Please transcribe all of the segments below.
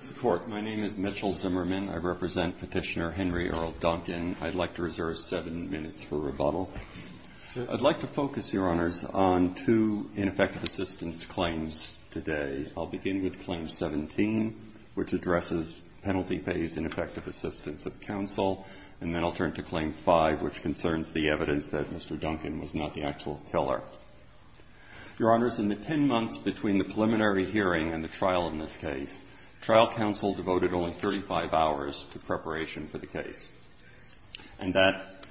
Mr. Court, my name is Mitchell Zimmerman. I represent Petitioner Henry Earl Duncan. I'd like to reserve seven minutes for rebuttal. I'd like to focus, Your Honors, on two ineffective assistance claims today. I'll begin with Claim 17, which addresses Penalty Pays Ineffective Assistance of Counsel, and then I'll turn to Claim 5, which concerns the evidence that Mr. Duncan was not the actual killer. Your Honors, in the ten months between the preliminary hearing and the trial in this case, trial counsel devoted only 35 hours to preparation for the case. And that,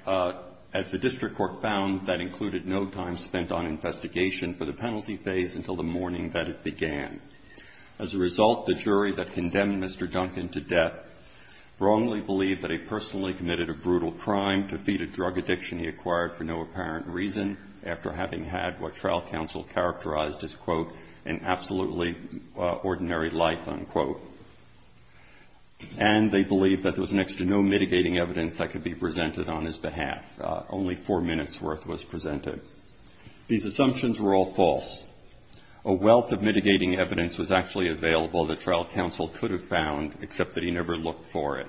as the district court found, that included no time spent on investigation for the penalty phase until the morning that it began. As a result, the jury that condemned Mr. Duncan to death wrongly believed that he personally committed a brutal crime to feed a drug addiction he acquired for no apparent reason, after having had what trial counsel characterized as, quote, an absolutely ordinary life, unquote. And they believed that there was next to no mitigating evidence that could be presented on his behalf. Only four minutes' worth was presented. These assumptions were all false. A wealth of mitigating evidence was actually available that trial counsel could have found, except that he never looked for it.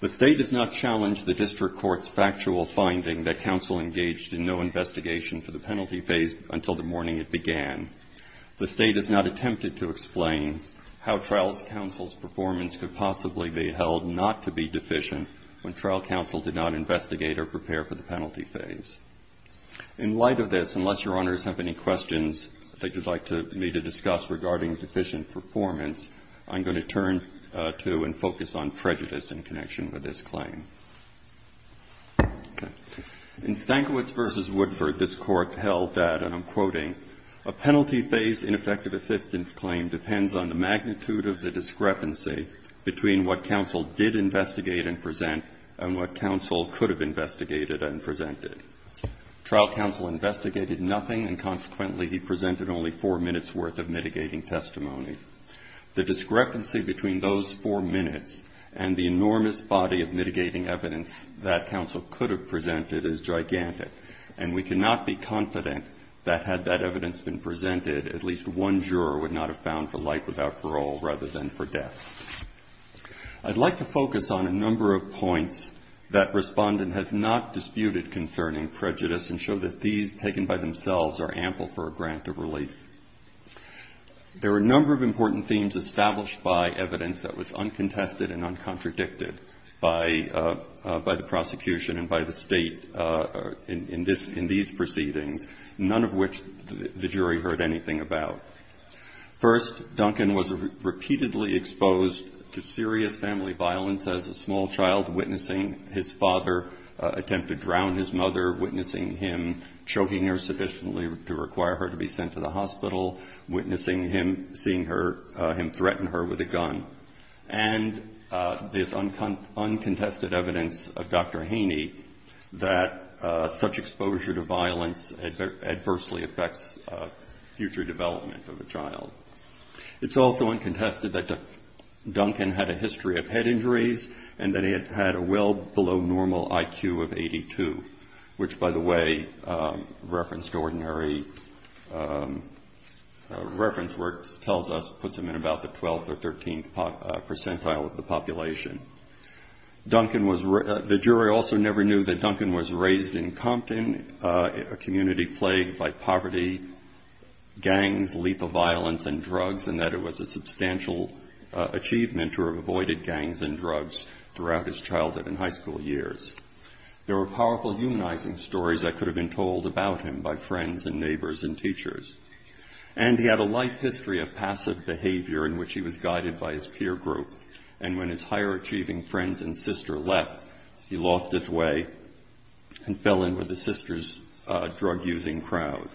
The State does not challenge the district court's factual finding that counsel engaged in no investigation for the penalty phase until the morning it began. The State has not attempted to explain how trial counsel's performance could possibly be held not to be deficient when trial counsel did not investigate or prepare for the penalty phase. In light of this, unless Your Honors have any questions that you'd like me to discuss regarding deficient performance, I'm going to turn to and focus on prejudice in connection with this claim. In Stankiewicz v. Woodford, this Court held that, and I'm quoting, a penalty phase ineffective assistance claim depends on the magnitude of the discrepancy between what counsel did investigate and present and what counsel could have investigated and presented. Trial counsel investigated nothing, and consequently he presented only four minutes' worth of mitigating evidence that counsel could have presented as gigantic. And we cannot be confident that had that evidence been presented, at least one juror would not have found for life without parole rather than for death. I'd like to focus on a number of points that Respondent has not disputed concerning prejudice and show that these, taken by themselves, are ample for a grant of relief. There are a number of important themes established by evidence that was uncontested and uncontradicted. By the prosecution and by the State in these proceedings, none of which the jury heard anything about. First, Duncan was repeatedly exposed to serious family violence as a small child, witnessing his father attempt to drown his mother, witnessing him choking her sufficiently to require her to be sent to the hospital, witnessing him seeing him threaten her with a gun. And this is uncontested evidence of Dr. Haney that such exposure to violence adversely affects future development of a child. It's also uncontested that Duncan had a history of head injuries and that he had a well below normal IQ of 82, which, by the way, reference to ordinary reference work tells us puts him in about the 12th or 13th percentile of the population. The jury also never knew that Duncan was raised in Compton, a community plagued by poverty, gangs, lethal violence, and drugs, and that it was a substantial achievement to have avoided gangs and drugs throughout his childhood and high school years. There were powerful humanizing stories that could have been told about him by friends and neighbors and teachers. And he had a life history of passive behavior in which he was guided by his peer group. And when his higher-achieving friends and sister left, he lost his way and fell in with his sister's drug-using crowd.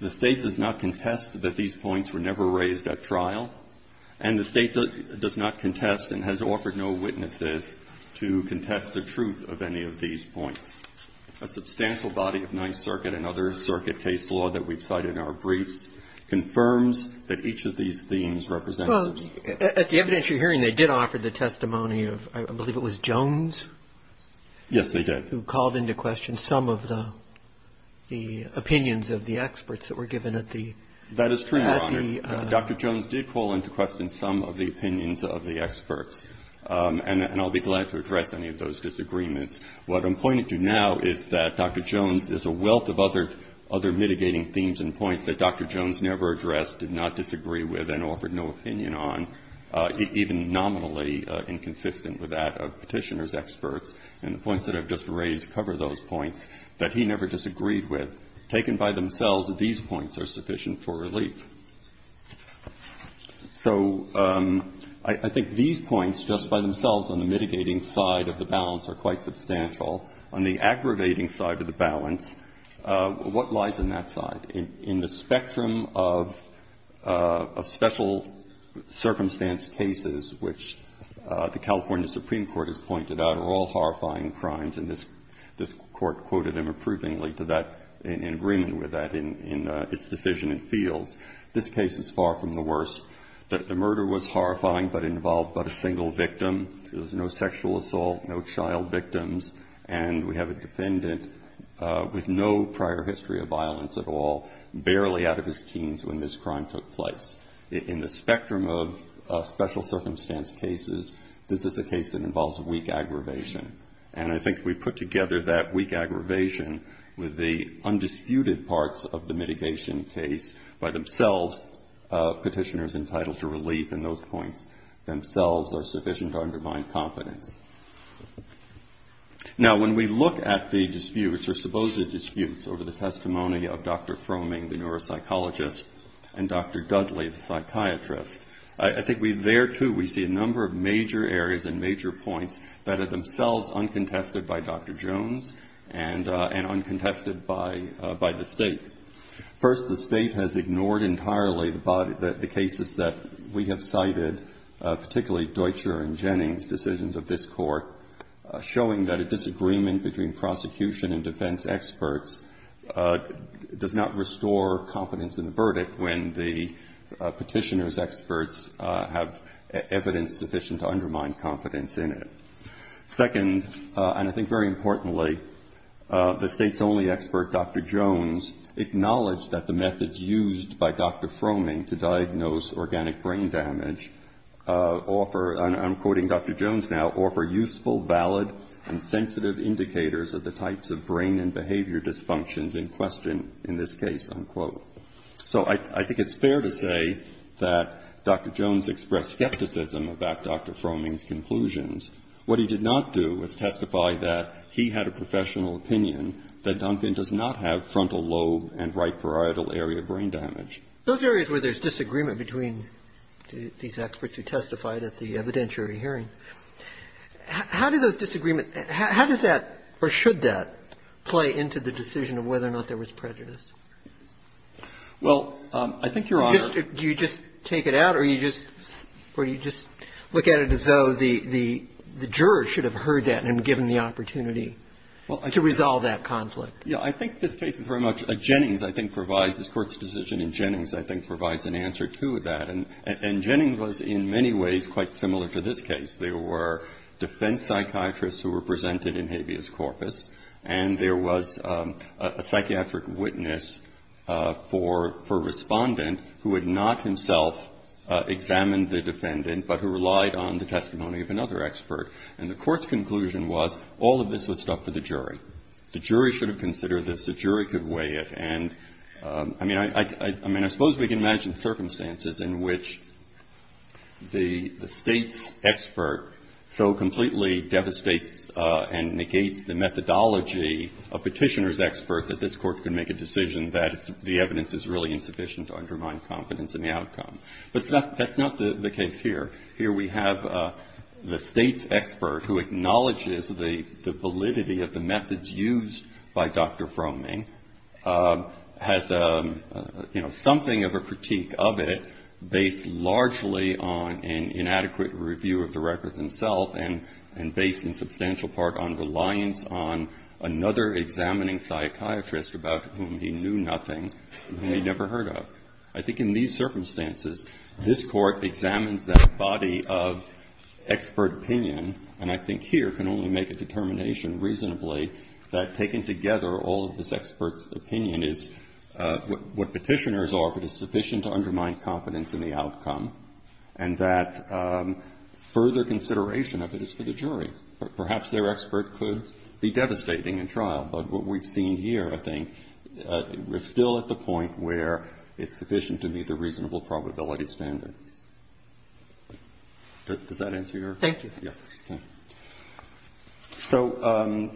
The State does not contest that these points were never raised at trial, and the State does not contest and has offered no witnesses to contest the truth of any of these points. A substantial body of Ninth Circuit and other circuit case law that we've cited in our briefs confirms that each of these themes represents the truth. Well, at the evidentiary hearing, they did offer the testimony of, I believe it was Jones? Yes, they did. Who called into question some of the opinions of the experts that were given at the – That is true, Your Honor. Dr. Jones did call into question some of the opinions of the experts, and I'll be glad to address any of those disagreements. What I'm pointing to now is that Dr. Jones – there's a wealth of other mitigating themes and points that Dr. Jones never addressed, did not disagree with, and offered no opinion on, even nominally inconsistent with that of Petitioner's experts. And the points that I've just raised cover those points that he never disagreed with. Taken by themselves, these points are sufficient for relief. So I think these points, just by themselves, on the mitigating side of the balance are quite substantial. On the aggravating side of the balance, what lies on that side? In the spectrum of special circumstance cases, which the California Supreme Court has pointed out are all horrifying crimes, and this Court quoted them approvingly to that, in agreement with that, in its decision in fields, this case is far from the worst. The murder was horrifying but involved but a single victim. There was no sexual assault, no child victims, and we have a defendant with no prior history of violence at all, barely out of his teens when this crime took place. In the spectrum of special circumstance cases, this is a case that involves weak aggravation. And I think if we put together that weak aggravation with the undisputed parts of the mitigation case by themselves, Petitioner's entitled to relief in those points themselves are sufficient to undermine confidence. Now when we look at the disputes, or supposed disputes, over the testimony of Dr. Fromming, the neuropsychologist, and Dr. Dudley, the psychiatrist, I think there too we see a number of major areas and major points that are themselves uncontested by Dr. Jones and uncontested by the State. First, the State has ignored entirely the cases that we have cited, particularly Deutscher and Jennings' decisions of this Court, showing that a disagreement between prosecution and defense experts does not restore confidence in the verdict when the Petitioner's experts have evidence sufficient to undermine confidence in it. Second, and I think very importantly, the State's only expert, Dr. Jones, acknowledged that the methods used by Dr. Fromming to diagnose organic brain damage offer, and I'm quoting Dr. Jones now, offer useful, valid, and sensitive indicators of the types of brain and behavior dysfunctions in question in this case, unquote. So I think it's fair to say that Dr. Jones expressed skepticism about Dr. Fromming's conclusions. What he did not do was testify that he had a professional opinion that Duncan does not have frontal lobe and right parietal area brain damage. Those areas where there's disagreement between these experts who testified at the evidentiary hearing, how do those disagreements, how does that or should that play into the decision of whether or not there was prejudice? Well, I think, Your Honor Do you just take it out or do you just look at it as though the jurors should have heard that and given the opportunity to resolve that conflict? Yeah. I think this case is very much a Jennings, I think, provides, this Court's decision in Jennings, I think, provides an answer to that. And Jennings was in many ways quite similar to this case. There were defense psychiatrists who were presented in habeas corpus, and there was a psychiatric witness for a Respondent who had not himself examined the defendant, but who relied on the testimony of another expert. And the Court's conclusion was all of this was stuff for the jury. The jury should have considered this. The jury could weigh it. And, I mean, I suppose we can imagine circumstances in which the State's expert so completely devastates and negates the methodology of Petitioner's expert that this Court can make a decision that the evidence is really insufficient to undermine confidence in the outcome. But that's not the case here. Here we have the State's expert who acknowledges the validity of the methods used by Dr. Fromming, has, you know, something of a critique of it based largely on an inadequate review of the records himself and based in substantial part on reliance on another examining psychiatrist about whom he knew nothing, whom he never heard of. I think in these circumstances, this Court examines that body of expert opinion, and I think here can only make a determination reasonably that taking together all of this expert's opinion is what Petitioner's are if it is sufficient to undermine confidence in the outcome, and that further consideration of it is for the jury. Perhaps their expert could be devastating in trial, but what we've seen here, I think, we're still at the point where it's sufficient to meet the reasonable probability standard. Does that answer your question? Thank you. Yeah. So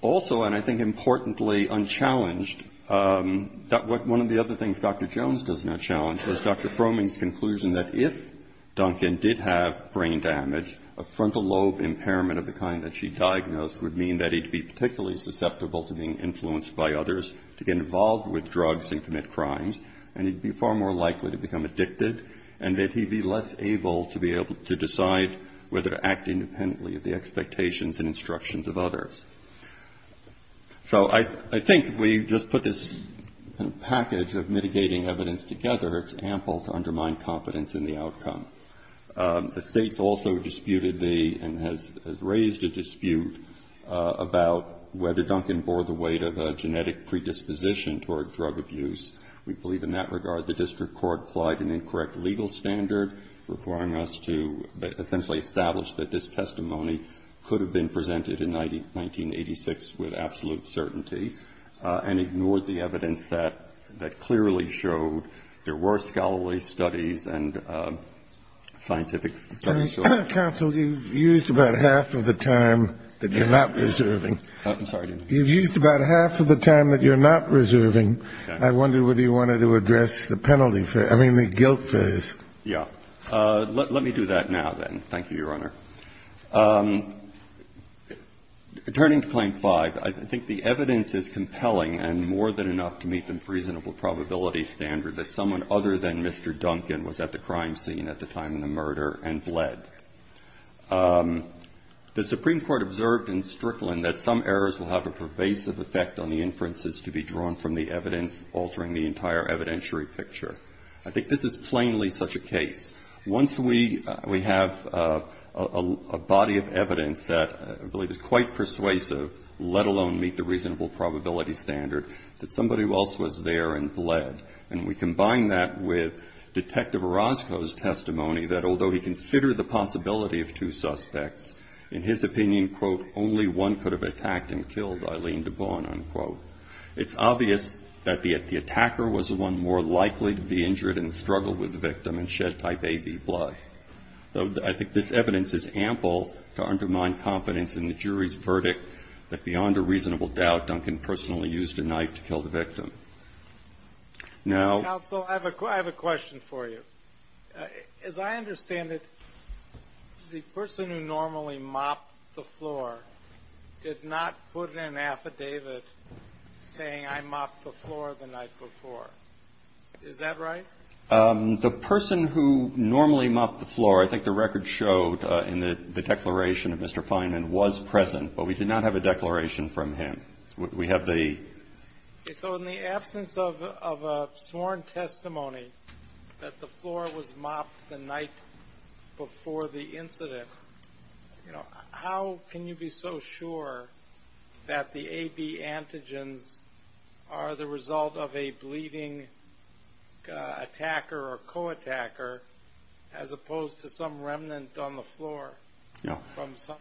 also, and I think importantly unchallenged, one of the other things Dr. Jones does not challenge is Dr. Fromming's conclusion that if Duncan did have brain damage, a frontal lobe impairment of the kind that she diagnosed would mean that he'd be particularly susceptible to being influenced by others, to get involved with drugs and commit crimes, and he'd be far more likely to become addicted, and that he'd be less able to be able to decide whether to act independently of the expectations and instructions of others. So I think we just put this package of mitigating evidence together, it's ample to undermine confidence in the outcome. The state's also disputed the, and has raised a dispute about whether Duncan bore the weight of a genetic predisposition toward drug abuse. We believe in that regard the district court applied an incorrect legal standard requiring us to essentially establish that this testimony could have been presented in 1986 with absolute certainty, and ignored the evidence that clearly showed there were scholarly studies and scientific. Counsel, you've used about half of the time that you're not reserving. I'm sorry. You've used about half of the time that you're not reserving. I wonder whether you wanted to address the penalty for, I mean, the guilt for this. Yeah, let me do that now then, thank you, Your Honor. Turning to claim five, I think the evidence is compelling and more than enough to meet the reasonable probability standard that someone other than Mr. Duncan was at the crime scene at the time of the murder and bled. The Supreme Court observed in Strickland that some errors will have a pervasive effect on the inferences to be drawn from the evidence altering the entire evidentiary picture. I think this is plainly such a case. Once we have a body of evidence that I believe is quite persuasive, let alone meet the reasonable probability standard, that somebody else was there and we combine that with Detective Orozco's testimony that although he considered the possibility of two suspects, in his opinion, quote, only one could have attacked and killed, Eileen DeBorn, unquote. It's obvious that the attacker was the one more likely to be injured in the struggle with the victim and shed type AB blood. I think this evidence is ample to undermine confidence in the jury's verdict that beyond a reasonable doubt, Duncan personally used a knife to kill the victim. Now- Counsel, I have a question for you. As I understand it, the person who normally mopped the floor did not put in an affidavit saying I mopped the floor the night before. Is that right? The person who normally mopped the floor, I think the record showed in the declaration of Mr. Fineman, was present, but we did not have a declaration from him. We have the- So in the absence of a sworn testimony that the floor was mopped the night before the incident, how can you be so sure that the AB antigens are the result of a bleeding attacker or co-attacker as opposed to some remnant on the floor from some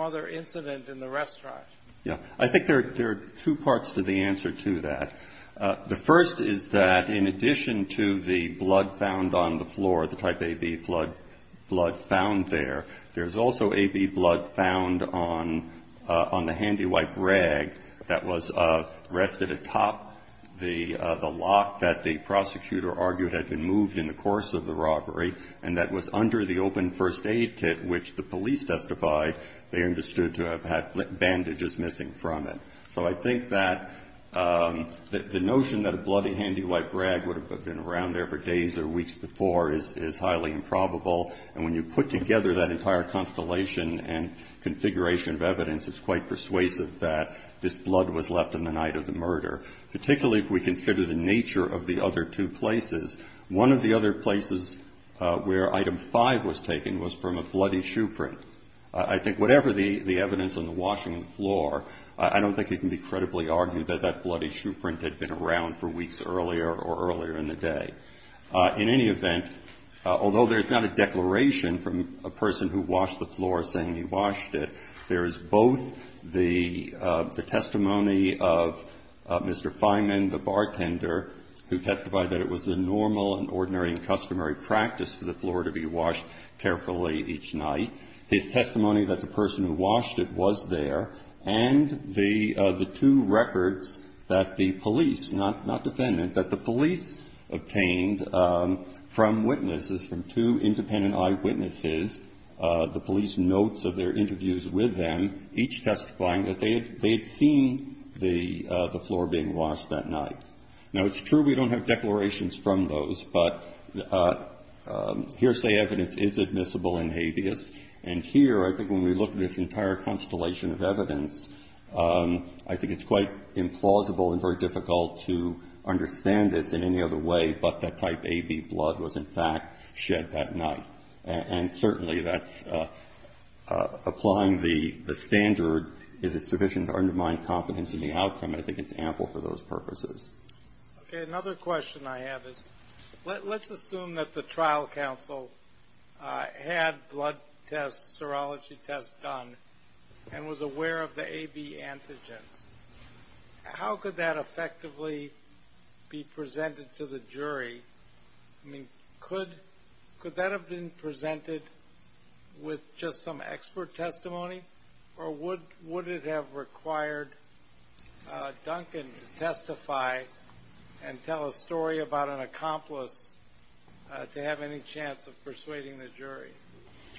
other incident in the restaurant? Yeah. I think there are two parts to the answer to that. The first is that in addition to the blood found on the floor, the type AB blood found there, there's also AB blood found on the handy wipe rag that was rested atop the lock that the prosecutor argued had been moved in the course of the robbery and that was under the open first aid kit which the police testified they understood to have had bandages missing from it. So I think that the notion that a bloody handy wipe rag would have been around there for days or weeks before is highly improbable. And when you put together that entire constellation and configuration of evidence, it's quite persuasive that this blood was left on the night of the murder, particularly if we consider the nature of the other two places. One of the other places where item 5 was taken was from a bloody shoe print. I think whatever the evidence on the washing of the floor, I don't think it can be credibly argued that that bloody shoe print had been around for weeks earlier or earlier in the day. In any event, although there's not a declaration from a person who washed the floor saying he washed it, there is both the testimony of Mr. Fineman, the bartender, who testified that it was the normal and ordinary and customary practice for the floor to be washed carefully each night. His testimony that the person who washed it was there and the two records that the police, not defendant, that the police obtained from witnesses, from two independent eyewitnesses, the police notes of their interviews with them, each testifying that they had seen the floor being washed that night. Now, it's true we don't have declarations from those, but hearsay evidence is admissible in habeas. And here, I think when we look at this entire constellation of evidence, I think it's quite implausible and very difficult to understand this in any other way, but that type AB blood was, in fact, shed that night. And certainly that's applying the standard, is it sufficient to undermine confidence in the outcome? I think it's ample for those purposes. Okay, another question I have is let's assume that the trial counsel had blood tests, serology tests done and was aware of the AB antigens. How could that effectively be presented to the jury? I mean, could that have been presented with just some expert testimony or would it have required Duncan to testify and tell a story about an accomplice to have any chance of persuading the jury?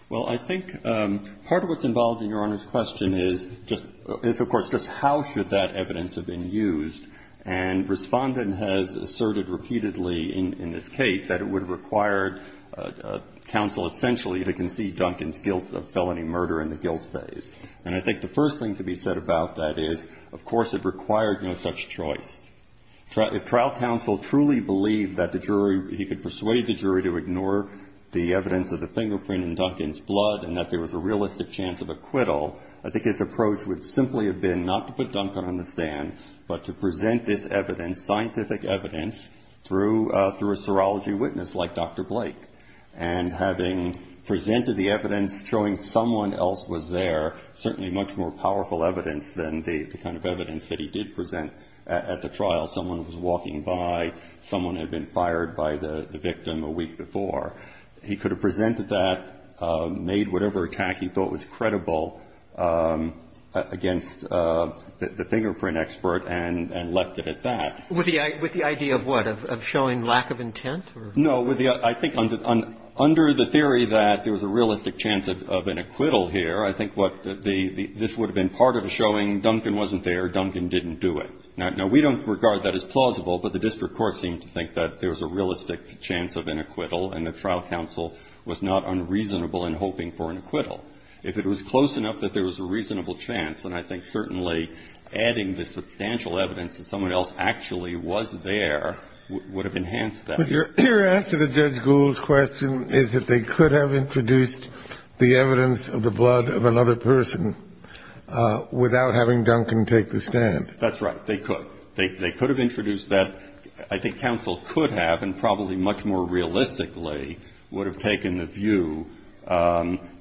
Well, I think part of what's involved in Your Honor's question is, of course, just how should that evidence have been used. And Respondent has asserted repeatedly in this case that it would have required counsel essentially to concede Duncan's guilt of felony murder in the guilt phase. And I think the first thing to be said about that is, of course, it required no such choice. If trial counsel truly believed that the jury, he could persuade the jury to ignore the evidence of the fingerprint in Duncan's blood and that there was a realistic chance of acquittal, I think his approach would simply have been not to put Duncan on the stand, but to present this evidence, scientific evidence, through a serology witness like Dr. Blake. And having presented the evidence showing someone else was there, certainly much more powerful evidence than the kind of evidence that he did present at the trial. Someone was walking by, someone had been fired by the victim a week before. He could have presented that, made whatever attack he thought was credible against the fingerprint expert and left it at that. With the idea of what? Of showing lack of intent? No. I think under the theory that there was a realistic chance of an acquittal here, I think what the ‑‑ this would have been part of showing Duncan wasn't there, Duncan didn't do it. Now, we don't regard that as plausible, but the district court seemed to think that there was a realistic chance of an acquittal and the trial counsel was not unreasonable in hoping for an acquittal. If it was close enough that there was a reasonable chance, then I think certainly adding the substantial evidence that someone else actually was there would have enhanced that. But your answer to Judge Gould's question is that they could have introduced the evidence of the blood of another person without having Duncan take the stand. That's right. They could. They could have introduced that. I think counsel could have and probably much more realistically would have taken the view.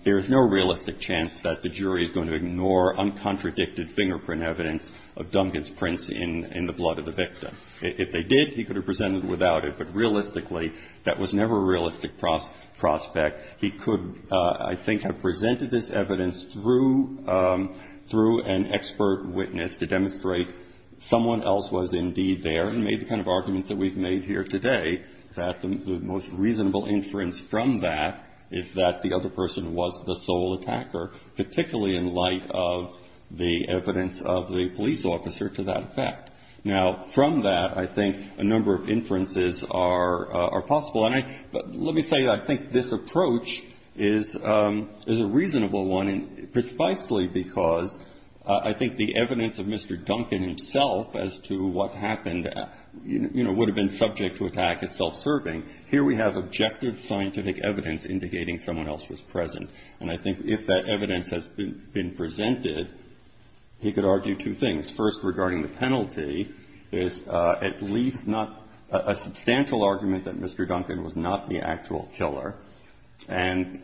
There is no realistic chance that the jury is going to ignore uncontradicted fingerprint evidence of Duncan's prints in the blood of the victim. If they did, he could have presented without it. But realistically, that was never a realistic prospect. He could, I think, have presented this evidence through an expert witness to demonstrate someone else was indeed there and made the kind of arguments that we've made here today that the most reasonable inference from that is that the other person was the sole attacker, particularly in light of the evidence of the police officer to that effect. Now, from that, I think a number of inferences are possible. And let me say I think this approach is a reasonable one, precisely because I think the evidence of Mr. Duncan himself as to what happened, you know, would have been reasonable. He could have argued that he was not the actual killer. He could have argued that he was not the subject to attack as self-serving. Here we have objective scientific evidence indicating someone else was present. And I think if that evidence has been presented, he could argue two things. First, regarding the penalty, there's at least not a substantial argument that Mr. Duncan was not the actual killer. And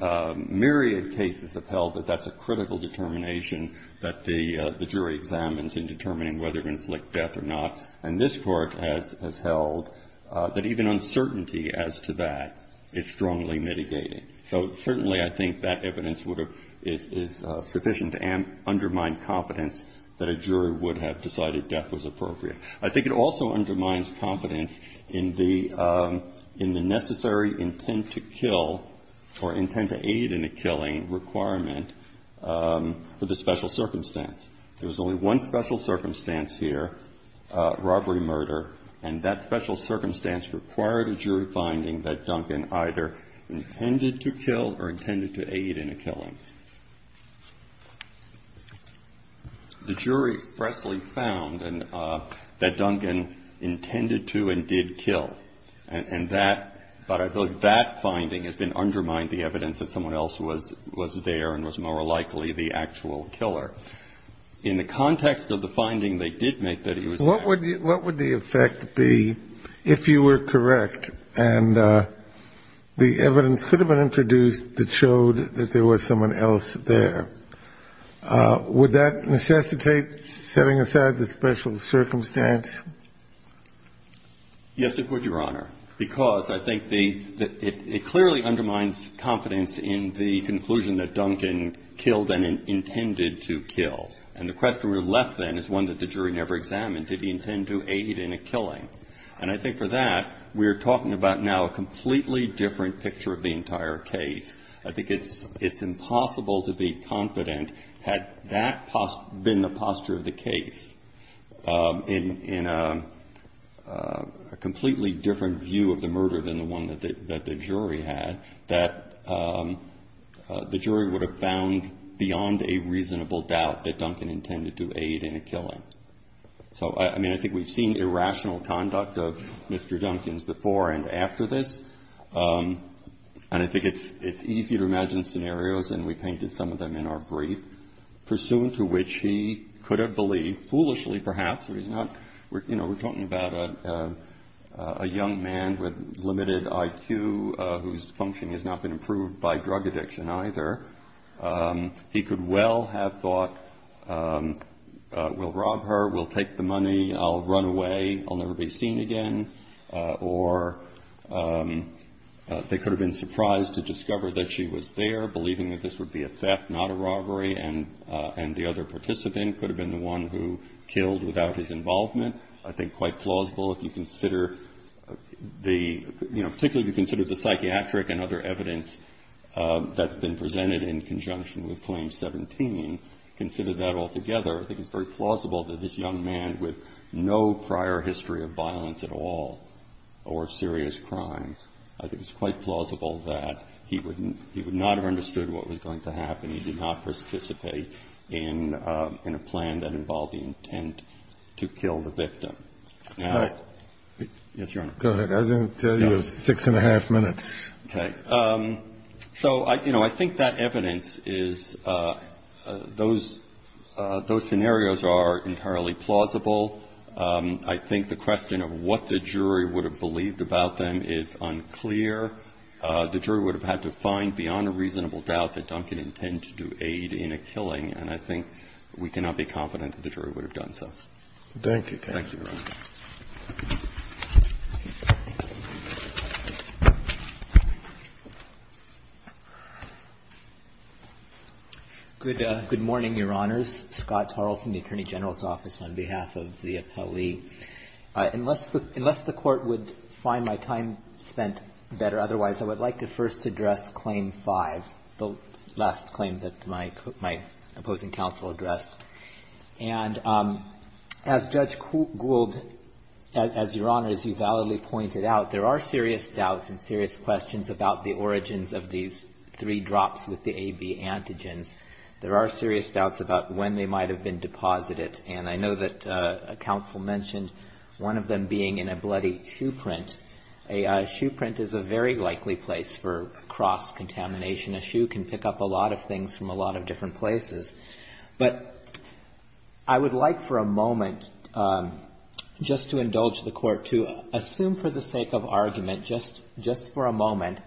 myriad cases have held that that's a critical determination that the jury examines in determining whether to inflict death or not. And this Court has held that even uncertainty as to that is strongly mitigated. So certainly I think that evidence is sufficient to undermine confidence that a jury would have decided death was appropriate. I think it also undermines confidence in the necessary intent to kill or intent to aid in a killing requirement for the special circumstance. There was only one special circumstance here, robbery-murder, and that special circumstance required a jury finding that Duncan either intended to kill or intended to aid in a killing. The jury expressly found that Duncan intended to and did kill. And that – but I believe that finding has been undermined, the evidence that someone else was there and was more likely the actual killer. In the context of the finding, they did make that he was the actual killer. Kennedy, what would the effect be if you were correct and the evidence could have been introduced that showed that there was someone else there? Would that necessitate setting aside the special circumstance? Yes, it would, Your Honor, because I think the – it clearly undermines confidence in the conclusion that Duncan killed and intended to kill. And the question we're left, then, is one that the jury never examined. Did he intend to aid in a killing? And I think for that, we're talking about now a completely different picture of the entire case. I think it's impossible to be confident, had that been the posture of the case, in a completely different view of the murder than the one that the jury had, that the jury would have found beyond a reasonable doubt that Duncan intended to aid in a killing. So, I mean, I think we've seen irrational conduct of Mr. Duncan's before and after this. And I think it's easy to imagine scenarios, and we painted some of them in our brief, pursuant to which he could have believed, foolishly perhaps, that he's not – you know, we're talking about a young man with limited IQ whose function has not been improved by drug addiction either. He could well have thought, we'll rob her, we'll take the money, I'll run away, I'll never be seen again. Or they could have been surprised to discover that she was there, believing that this would be a theft, not a robbery. And the other participant could have been the one who killed without his involvement. I think quite plausible if you consider the – you know, particularly if you consider the psychiatric and other evidence that's been presented in conjunction with Claim 17, consider that altogether. I think it's very plausible that this young man with no prior history of violence at all or serious crime, I think it's quite plausible that he would not have understood what was going to happen. He did not participate in a plan that involved the intent to kill the victim. Now – All right. Yes, Your Honor. I didn't tell you it was six and a half minutes. Okay. So, you know, I think that evidence is – those scenarios are entirely plausible. I think the question of what the jury would have believed about them is unclear. The jury would have had to find beyond a reasonable doubt that Duncan intended to do aid in a killing, and I think we cannot be confident that the jury would have done so. Thank you, counsel. Thank you, Your Honor. Good morning, Your Honors. Scott Tarl from the Attorney General's Office on behalf of the appellee. Unless the Court would find my time spent better otherwise, I would like to first address Claim 5, the last claim that my opposing counsel addressed. And as Judge Gould – as Your Honor, as you validly pointed out, there are serious doubts and serious questions about the origins of these three drops with the AB antigens. There are serious doubts about when they might have been deposited. And I know that counsel mentioned one of them being in a bloody shoe print. A shoe print is a very likely place for cross-contamination. A shoe can pick up a lot of things from a lot of different places. But I would like for a moment, just to indulge the Court, to assume for the sake of argument, just for a moment,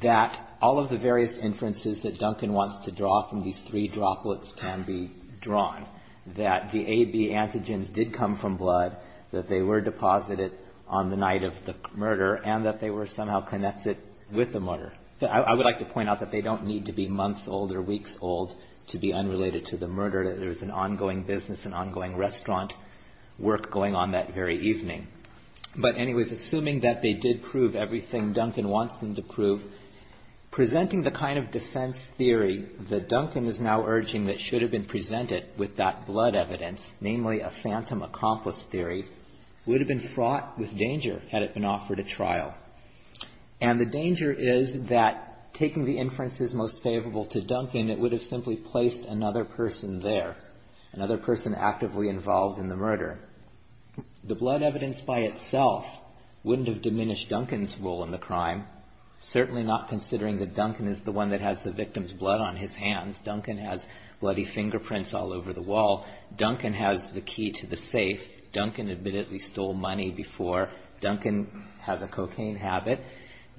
that all of the various inferences that Duncan wants to draw from these three droplets can be drawn, that the AB antigens did come from blood, that they were deposited on the night of the murder, and that they were somehow connected with the murder. I would like to point out that they don't need to be months old or weeks old to be unrelated to the murder. There was an ongoing business, an ongoing restaurant work going on that very evening. But anyways, assuming that they did prove everything Duncan wants them to prove, presenting the kind of defense theory that Duncan is now urging that should have been presented with that blood evidence, namely a phantom accomplice theory, would have been fraught with danger had it been offered at trial. And the danger is that taking the inferences most favorable to Duncan, it would have simply placed another person there, another person actively involved in the murder. The blood evidence by itself wouldn't have diminished Duncan's role in the crime, certainly not considering that Duncan is the one that has the victim's blood on his hands. Duncan has bloody fingerprints all over the wall. Duncan has the key to the safe. Duncan admittedly stole money before. Duncan has a cocaine habit.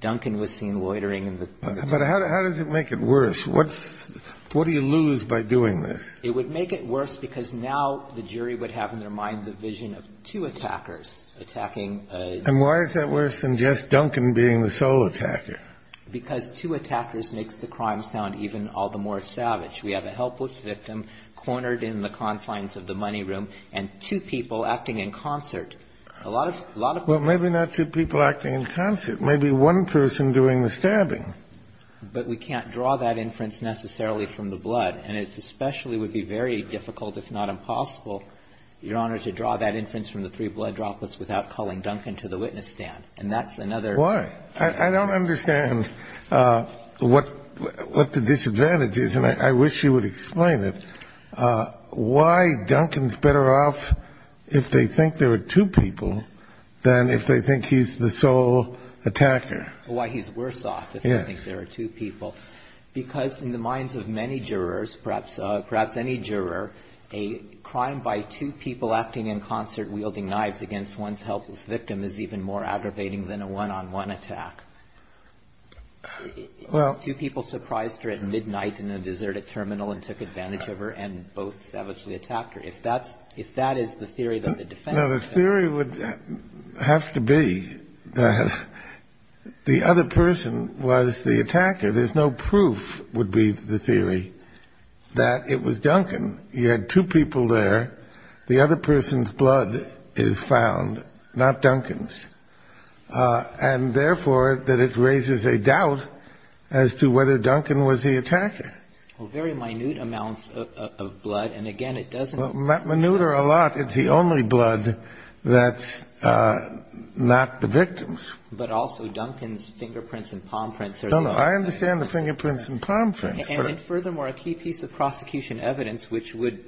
Duncan was seen loitering in the. But how does it make it worse? What do you lose by doing this? It would make it worse because now the jury would have in their mind the vision of two attackers attacking. And why is that worse than just Duncan being the sole attacker? Because two attackers makes the crime sound even all the more savage. We have a helpless victim cornered in the confines of the money room and two people acting in concert. A lot of people. Well, maybe not two people acting in concert. Maybe one person doing the stabbing. But we can't draw that inference necessarily from the blood. And it especially would be very difficult, if not impossible, Your Honor, to draw that inference from the three blood droplets without calling Duncan to the witness stand. And that's another. Why? I don't understand what the disadvantage is, and I wish you would explain it. Why Duncan is better off if they think there are two people than if they think he's the sole attacker? Why he's worse off if they think there are two people. Because in the minds of many jurors, perhaps any juror, a crime by two people acting in concert wielding knives against one's helpless victim is even more aggravating than a one-on-one attack. Two people surprised her at midnight in a deserted terminal and took advantage of her, and both savagely attacked her. If that is the theory that the defense... No, the theory would have to be that the other person was the attacker. There's no proof would be the theory that it was Duncan. You had two people there. The other person's blood is found, not Duncan's. And, therefore, that it raises a doubt as to whether Duncan was the attacker. Well, very minute amounts of blood. And, again, it doesn't... Well, minute are a lot. It's the only blood that's not the victim's. But also Duncan's fingerprints and palm prints are... No, no. I understand the fingerprints and palm prints, but... And, furthermore, a key piece of prosecution evidence which would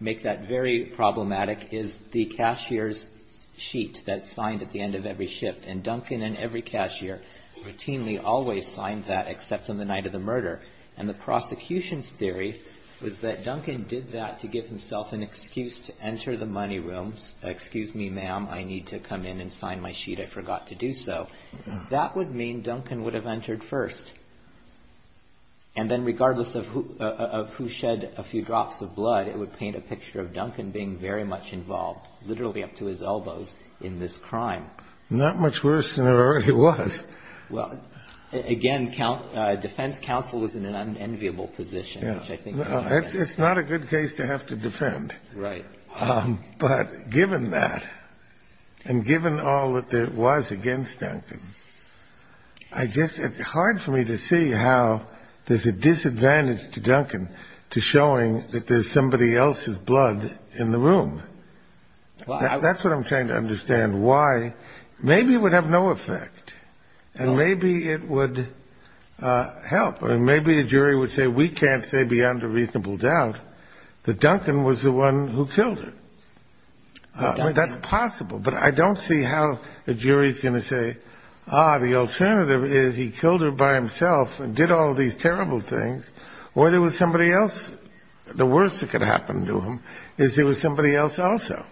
make that very problematic is the cashier's sheet that's signed at the end of every shift. And Duncan and every cashier routinely always signed that except on the night of the prosecution's theory was that Duncan did that to give himself an excuse to enter the money room. Excuse me, ma'am, I need to come in and sign my sheet. I forgot to do so. That would mean Duncan would have entered first. And then, regardless of who shed a few drops of blood, it would paint a picture of Duncan being very much involved, literally up to his elbows, in this crime. Not much worse than it already was. Again, defense counsel is in an unenviable position. It's not a good case to have to defend. Right. But, given that, and given all that there was against Duncan, I guess it's hard for me to see how there's a disadvantage to Duncan to showing that there's somebody else's blood in the room. That's what I'm trying to understand. Maybe it would have no effect. And maybe it would help. Maybe a jury would say we can't say beyond a reasonable doubt that Duncan was the one who killed her. That's possible. But I don't see how a jury's going to say, ah, the alternative is he killed her by himself and did all these terrible things. Or there was somebody else. The worst that could happen to him is there was somebody else also.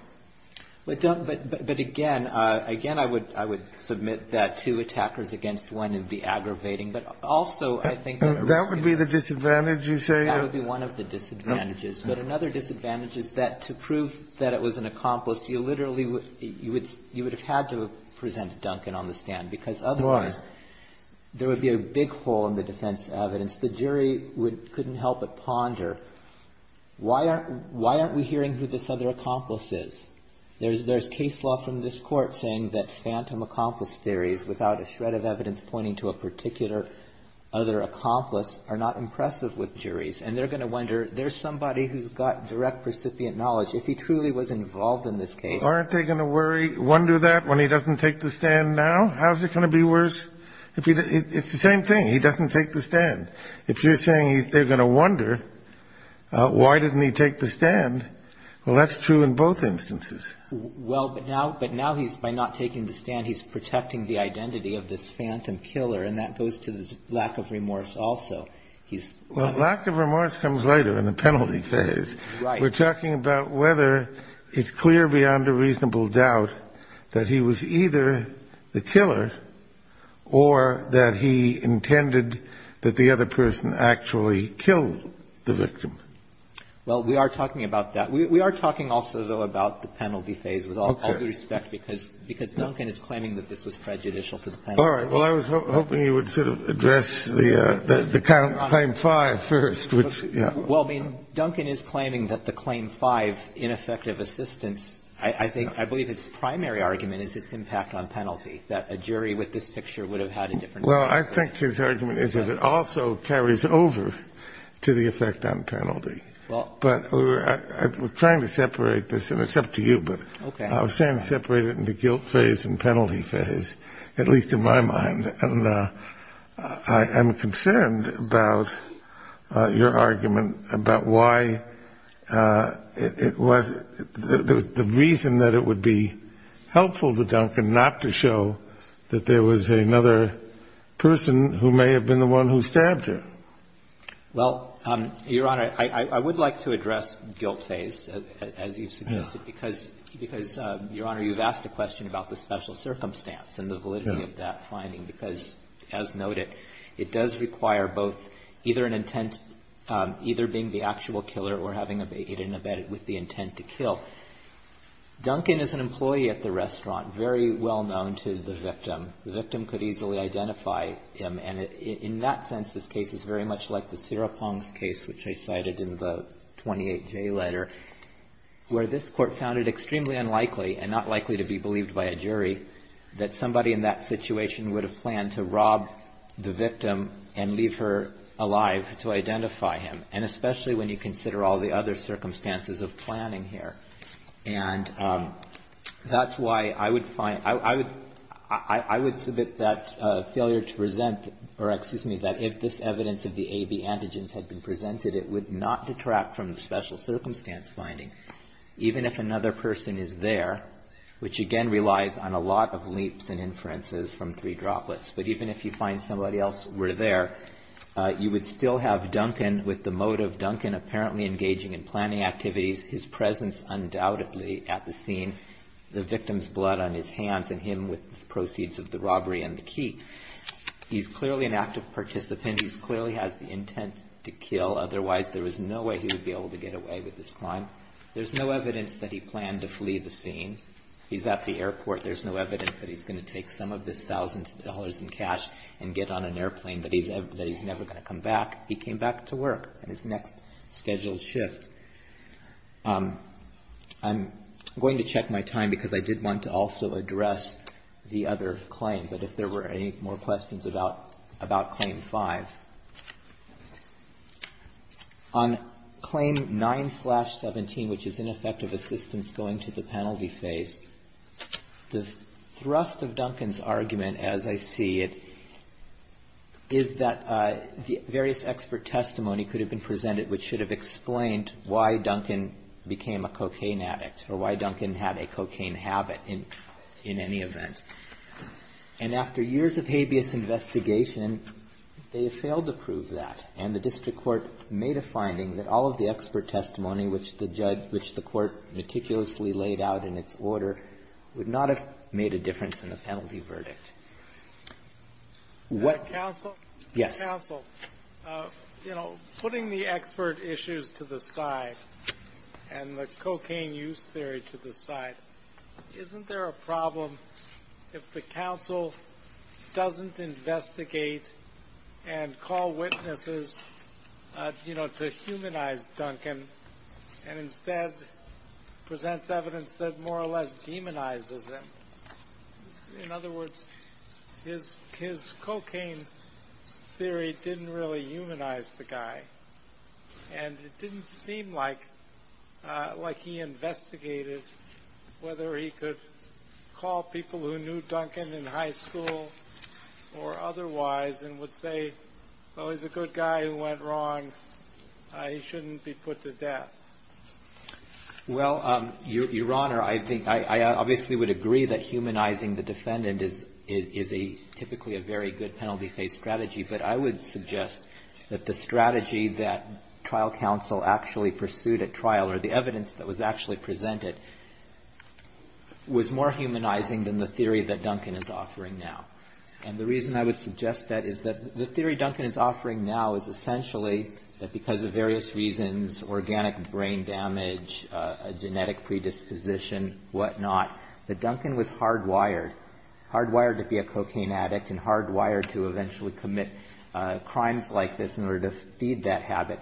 But, Duncan, but again, again, I would submit that two attackers against one would be aggravating. But also, I think the risk is. That would be the disadvantage, you say? That would be one of the disadvantages. But another disadvantage is that to prove that it was an accomplice, you literally would have had to present Duncan on the stand. Why? Because otherwise there would be a big hole in the defense evidence. The jury couldn't help but ponder, why aren't we hearing who this other accomplice is? There's case law from this Court saying that phantom accomplice theories without a shred of evidence pointing to a particular other accomplice are not impressive with juries. And they're going to wonder, there's somebody who's got direct recipient knowledge. If he truly was involved in this case. Aren't they going to worry, wonder that when he doesn't take the stand now? How is it going to be worse? It's the same thing. He doesn't take the stand. If you're saying they're going to wonder, why didn't he take the stand? Well, that's true in both instances. Well, but now he's, by not taking the stand, he's protecting the identity of this phantom killer. And that goes to the lack of remorse also. Well, lack of remorse comes later in the penalty phase. Right. We're talking about whether it's clear beyond a reasonable doubt that he was either the killer or that he intended that the other person actually killed the victim. Well, we are talking about that. We are talking also, though, about the penalty phase with all due respect because Duncan is claiming that this was prejudicial to the penalty. All right. Well, I was hoping you would sort of address the claim 5 first, which, yeah. Well, I mean, Duncan is claiming that the claim 5, ineffective assistance, I think his primary argument is its impact on penalty, that a jury with this picture would have had a different opinion. Well, I think his argument is that it also carries over to the effect on penalty. But we're trying to separate this. And it's up to you. But I was trying to separate it into guilt phase and penalty phase, at least in my mind. And I am concerned about your argument about why it was the reason that it would be helpful to Duncan not to show that there was another person who may have been the one who stabbed her. Well, Your Honor, I would like to address guilt phase, as you suggested, because, Your Honor, you've asked a question about the special circumstance and the validity of that finding because, as noted, it does require both either an intent, either being the actual killer or having it embedded with the intent to kill. Duncan is an employee at the restaurant, very well known to the victim. The victim could easily identify him. And in that sense, this case is very much like the Sarah Pong's case, which I cited in the 28J letter, where this court found it extremely unlikely, and not likely to be believed by a jury, that somebody in that situation would have planned to rob the victim and leave her alive to identify him, and especially when you consider all the other circumstances of planning here. And that's why I would submit that failure to present, or excuse me, that if this evidence of the AB antigens had been presented, it would not detract from the special circumstance finding, even if another person is there, which again relies on a lot of leaps and inferences from three droplets. But even if you find somebody else were there, you would still have Duncan with the motive, Duncan apparently engaging in planning activities, his presence undoubtedly at the scene, the victim's blood on his hands, and him with the proceeds of the robbery and the key. He's clearly an active participant. He clearly has the intent to kill. Otherwise, there was no way he would be able to get away with this crime. There's no evidence that he planned to flee the scene. He's at the airport. There's no evidence that he's going to take some of this $1,000 in cash and get on an airplane, that he's never going to come back. He came back to work on his next scheduled shift. I'm going to check my time because I did want to also address the other claim, but if there were any more questions about Claim 5. On Claim 9-17, which is ineffective assistance going to the penalty phase, the could have been presented which should have explained why Duncan became a cocaine addict or why Duncan had a cocaine habit in any event. And after years of habeas investigation, they have failed to prove that. And the district court made a finding that all of the expert testimony which the judge, which the court meticulously laid out in its order, would not have made a difference in the penalty verdict. Counsel? Yes. Counsel, putting the expert issues to the side and the cocaine use theory to the side, isn't there a problem if the counsel doesn't investigate and call witnesses to humanize Duncan and instead presents evidence that more or less demonizes him? In other words, his cocaine theory didn't really humanize the guy. And it didn't seem like he investigated whether he could call people who knew Duncan in high school or otherwise and would say, well, he's a good guy who went He shouldn't be put to death. Well, Your Honor, I think I obviously would agree that humanizing the defendant is a typically a very good penalty phase strategy. But I would suggest that the strategy that trial counsel actually pursued at trial or the evidence that was actually presented was more humanizing than the theory that Duncan is offering now. And the reason I would suggest that is that the theory Duncan is offering now is essentially that because of various reasons, organic brain damage, a genetic predisposition, whatnot, that Duncan was hardwired, hardwired to be a cocaine addict and hardwired to eventually commit crimes like this in order to feed that habit.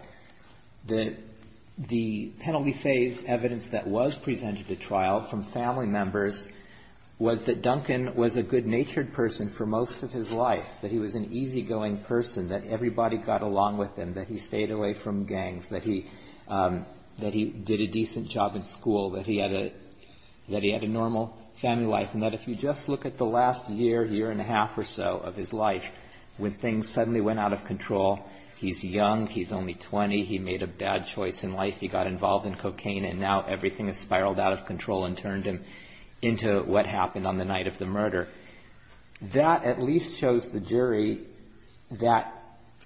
The penalty phase evidence that was presented at trial from family members was that Duncan was a good-natured person for most of his life, that he was an easygoing person, that everybody got along with him, that he stayed away from gangs, that he did a decent job in school, that he had a normal family life. And that if you just look at the last year, year and a half or so of his life, when things suddenly went out of control, he's young, he's only 20, he made a bad choice in life, he got involved in cocaine, and now everything has spiraled out of control and turned him into what happened on the night of the murder. That at least shows the jury that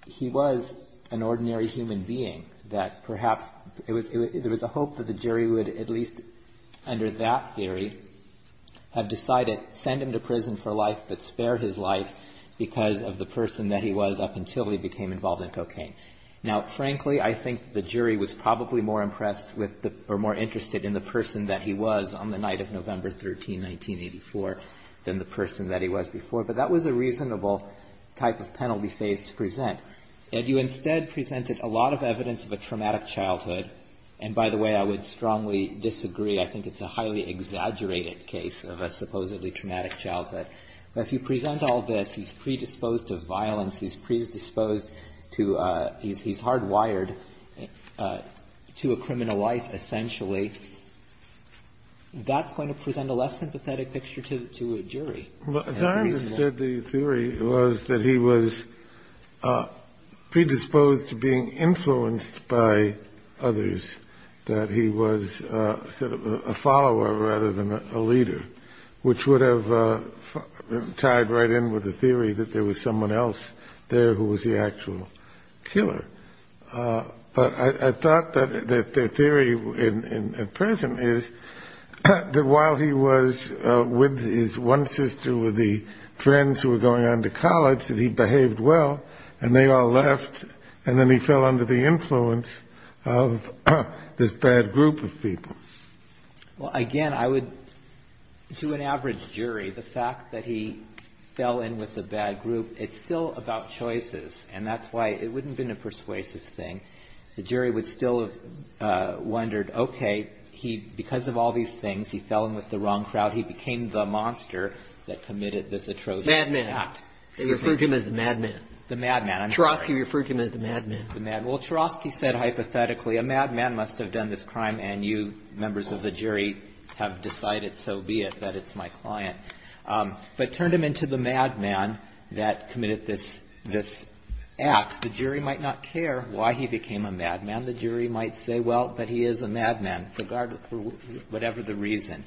he was an ordinary human being, that perhaps there was a hope that the jury would at least, under that theory, have decided, send him to prison for life but spare his life because of the person that he was up until he became involved in cocaine. Now, frankly, I think the jury was probably more impressed with or more interested in the person that he was on the night of November 13, 1984, than the person that he was before. But that was a reasonable type of penalty phase to present. And you instead presented a lot of evidence of a traumatic childhood. And by the way, I would strongly disagree. I think it's a highly exaggerated case of a supposedly traumatic childhood. But if you present all this, he's predisposed to violence, he's predisposed to, he's hardwired to a criminal life, essentially, that's going to present a less sympathetic picture to a jury. And it's reasonable. Well, as I understood the theory, it was that he was predisposed to being influenced by others, that he was sort of a follower rather than a leader, which would have tied right in with the theory that there was someone else there who was the actual killer. But I thought that the theory at present is that while he was with his one sister, with the friends who were going on to college, that he behaved well, and they all left, and then he fell under the influence of this bad group of people. Well, again, I would, to an average jury, the fact that he fell in with the bad group, it's still about choices. And that's why it wouldn't have been a persuasive thing. The jury would still have wondered, okay, he, because of all these things, he fell in with the wrong crowd. He became the monster that committed this atrocious act. Madman. They referred to him as the madman. The madman. I'm sorry. Chorosky referred to him as the madman. The madman. Well, Chorosky said hypothetically, a madman must have done this crime, and you members of the jury have decided so be it, that it's my client. But turned him into the madman that committed this act. The jury might not care why he became a madman. The jury might say, well, but he is a madman, for whatever the reason.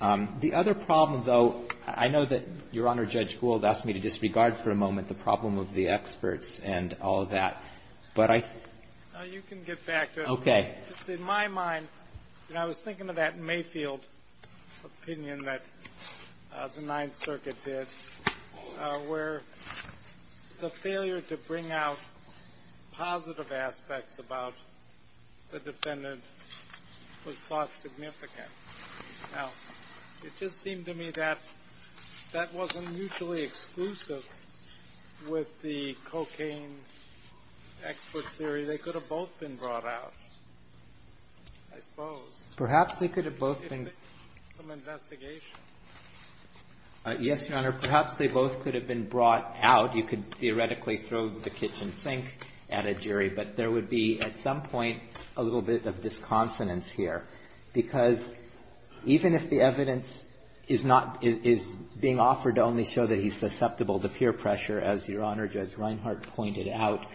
The other problem, though, I know that Your Honor, Judge Gould asked me to disregard for a moment the problem of the experts and all of that. But I. You can get back to it. Okay. In my mind, and I was thinking of that Mayfield opinion that the Ninth Circuit did, where the failure to bring out positive aspects about the defendant was thought significant. Now, it just seemed to me that that wasn't mutually exclusive with the cocaine expert theory. They could have both been brought out, I suppose. Perhaps they could have both been. From investigation. Yes, Your Honor. Perhaps they both could have been brought out. You could theoretically throw the kitchen sink at a jury. But there would be, at some point, a little bit of disconsonance here. Because even if the evidence is being offered to only show that he's susceptible to peer pressure, as Your Honor, Judge Reinhart pointed out,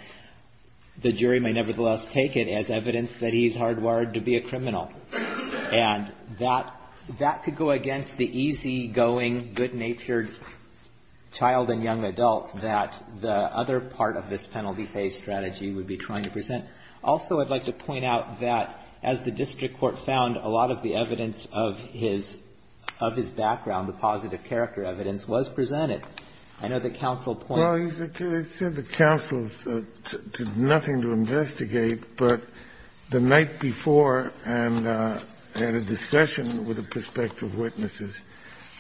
the jury may nevertheless take it as evidence that he's hardwired to be a criminal. And that could go against the easygoing, good-natured child and young adult that the other part of this penalty-based strategy would be trying to present. Also, I'd like to point out that, as the district court found, a lot of the evidence of his background, the positive character evidence, was presented. I know that counsel points to that. Well, they said the counsel did nothing to investigate, but the night before, and they had a discussion with the prospective witnesses,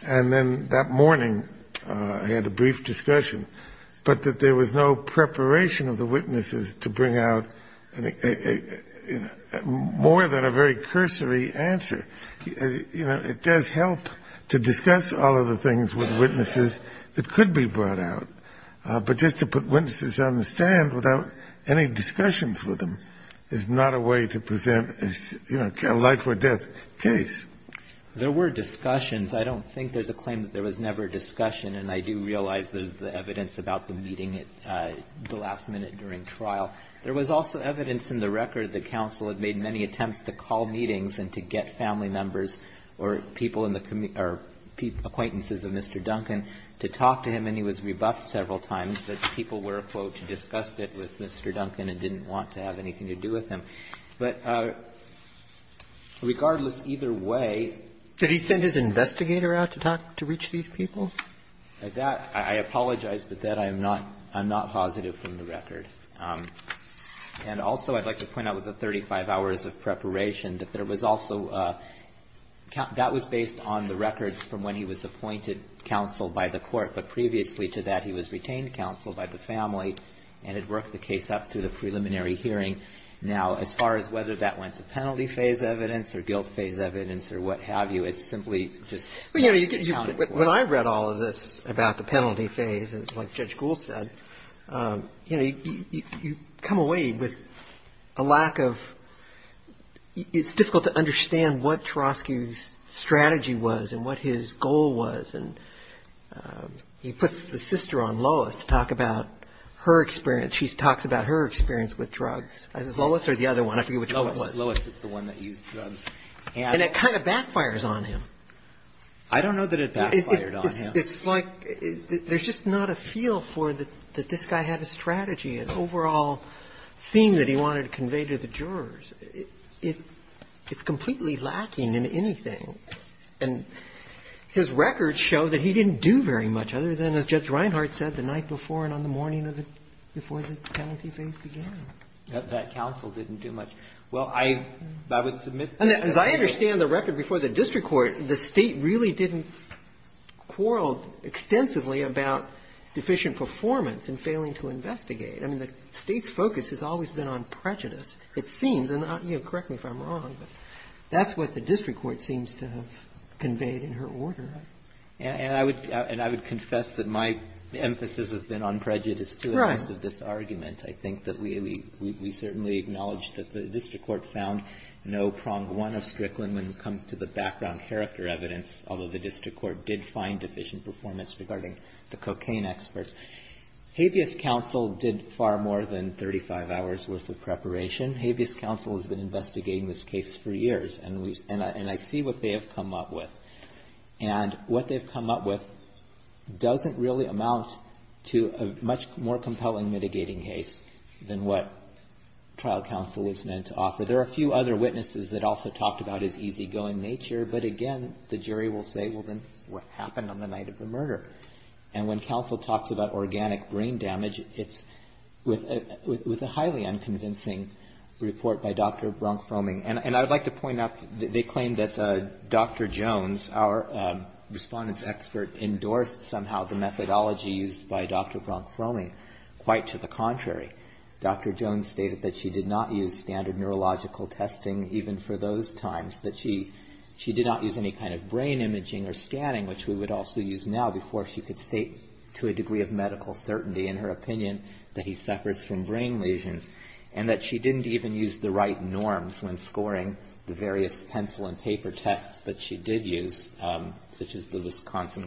and then that morning they had a brief discussion, but that there was no preparation of the witnesses to bring out more than a very cursory answer. You know, it does help to discuss all of the things with witnesses that could be brought out, but just to put witnesses on the stand without any discussions with them is not a way to present a life-or-death case. There were discussions. I don't think there's a claim that there was never a discussion, and I do realize there's the evidence about the meeting at the last minute during trial. There was also evidence in the record that counsel had made many attempts to call meetings and to get family members or people in the acquaintances of Mr. Duncan to talk to him, and he was rebuffed several times that people were, quote, disgusted with Mr. Duncan and didn't want to have anything to do with him. But regardless, either way he sent his investigator out to talk to reach these people? At that, I apologize, but that I'm not positive from the record. And also I'd like to point out with the 35 hours of preparation that there was also a count that was based on the records from when he was appointed counsel by the court, but previously to that he was retained counsel by the family and had worked the case up through the preliminary hearing. Now, as far as whether that went to penalty phase evidence or guilt phase evidence or what have you, it's simply just not accounted for. When I read all of this about the penalty phase, like Judge Gould said, you know, you come away with a lack of, it's difficult to understand what Trosky's strategy was and what his goal was, and he puts the sister on Lois to talk about her experience. She talks about her experience with drugs. Is it Lois or the other one? I forget which one it was. Lois is the one that used drugs. And it kind of backfires on him. I don't know that it backfired on him. It's like there's just not a feel for that this guy had a strategy, an overall theme that he wanted to convey to the jurors. It's completely lacking in anything. And his records show that he didn't do very much other than, as Judge Reinhart said, the night before and on the morning before the penalty phase began. That counsel didn't do much. Well, I would submit that. And as I understand the record before the district court, the State really didn't quarrel extensively about deficient performance in failing to investigate. I mean, the State's focus has always been on prejudice, it seems. And correct me if I'm wrong, but that's what the district court seems to have conveyed in her order. And I would confess that my emphasis has been on prejudice, too, in most of this argument. I think that we certainly acknowledge that the district court found no prong one of Strickland when it comes to the background character evidence, although the district court did find deficient performance regarding the cocaine experts. Habeas counsel did far more than 35 hours worth of preparation. Habeas counsel has been investigating this case for years, and I see what they have come up with. And what they've come up with doesn't really amount to a much more compelling mitigating case than what trial counsel was meant to offer. There are a few other witnesses that also talked about his easygoing nature, but again, the jury will say, well, then, what happened on the night of the murder? And when counsel talks about organic brain damage, it's with a highly unconvincing report by Dr. Bronk-Froeming. And I would like to point out that they claim that Dr. Jones, our respondents expert, endorsed somehow the methodology used by Dr. Bronk-Froeming, quite to the contrary. Dr. Jones stated that she did not use standard neurological testing even for those times, that she did not use any kind of brain imaging or scanning, which we would also use now, before she could state to a degree of medical certainty in her opinion that he suffers from brain lesions, and that she didn't even use the right norms when scoring the various constant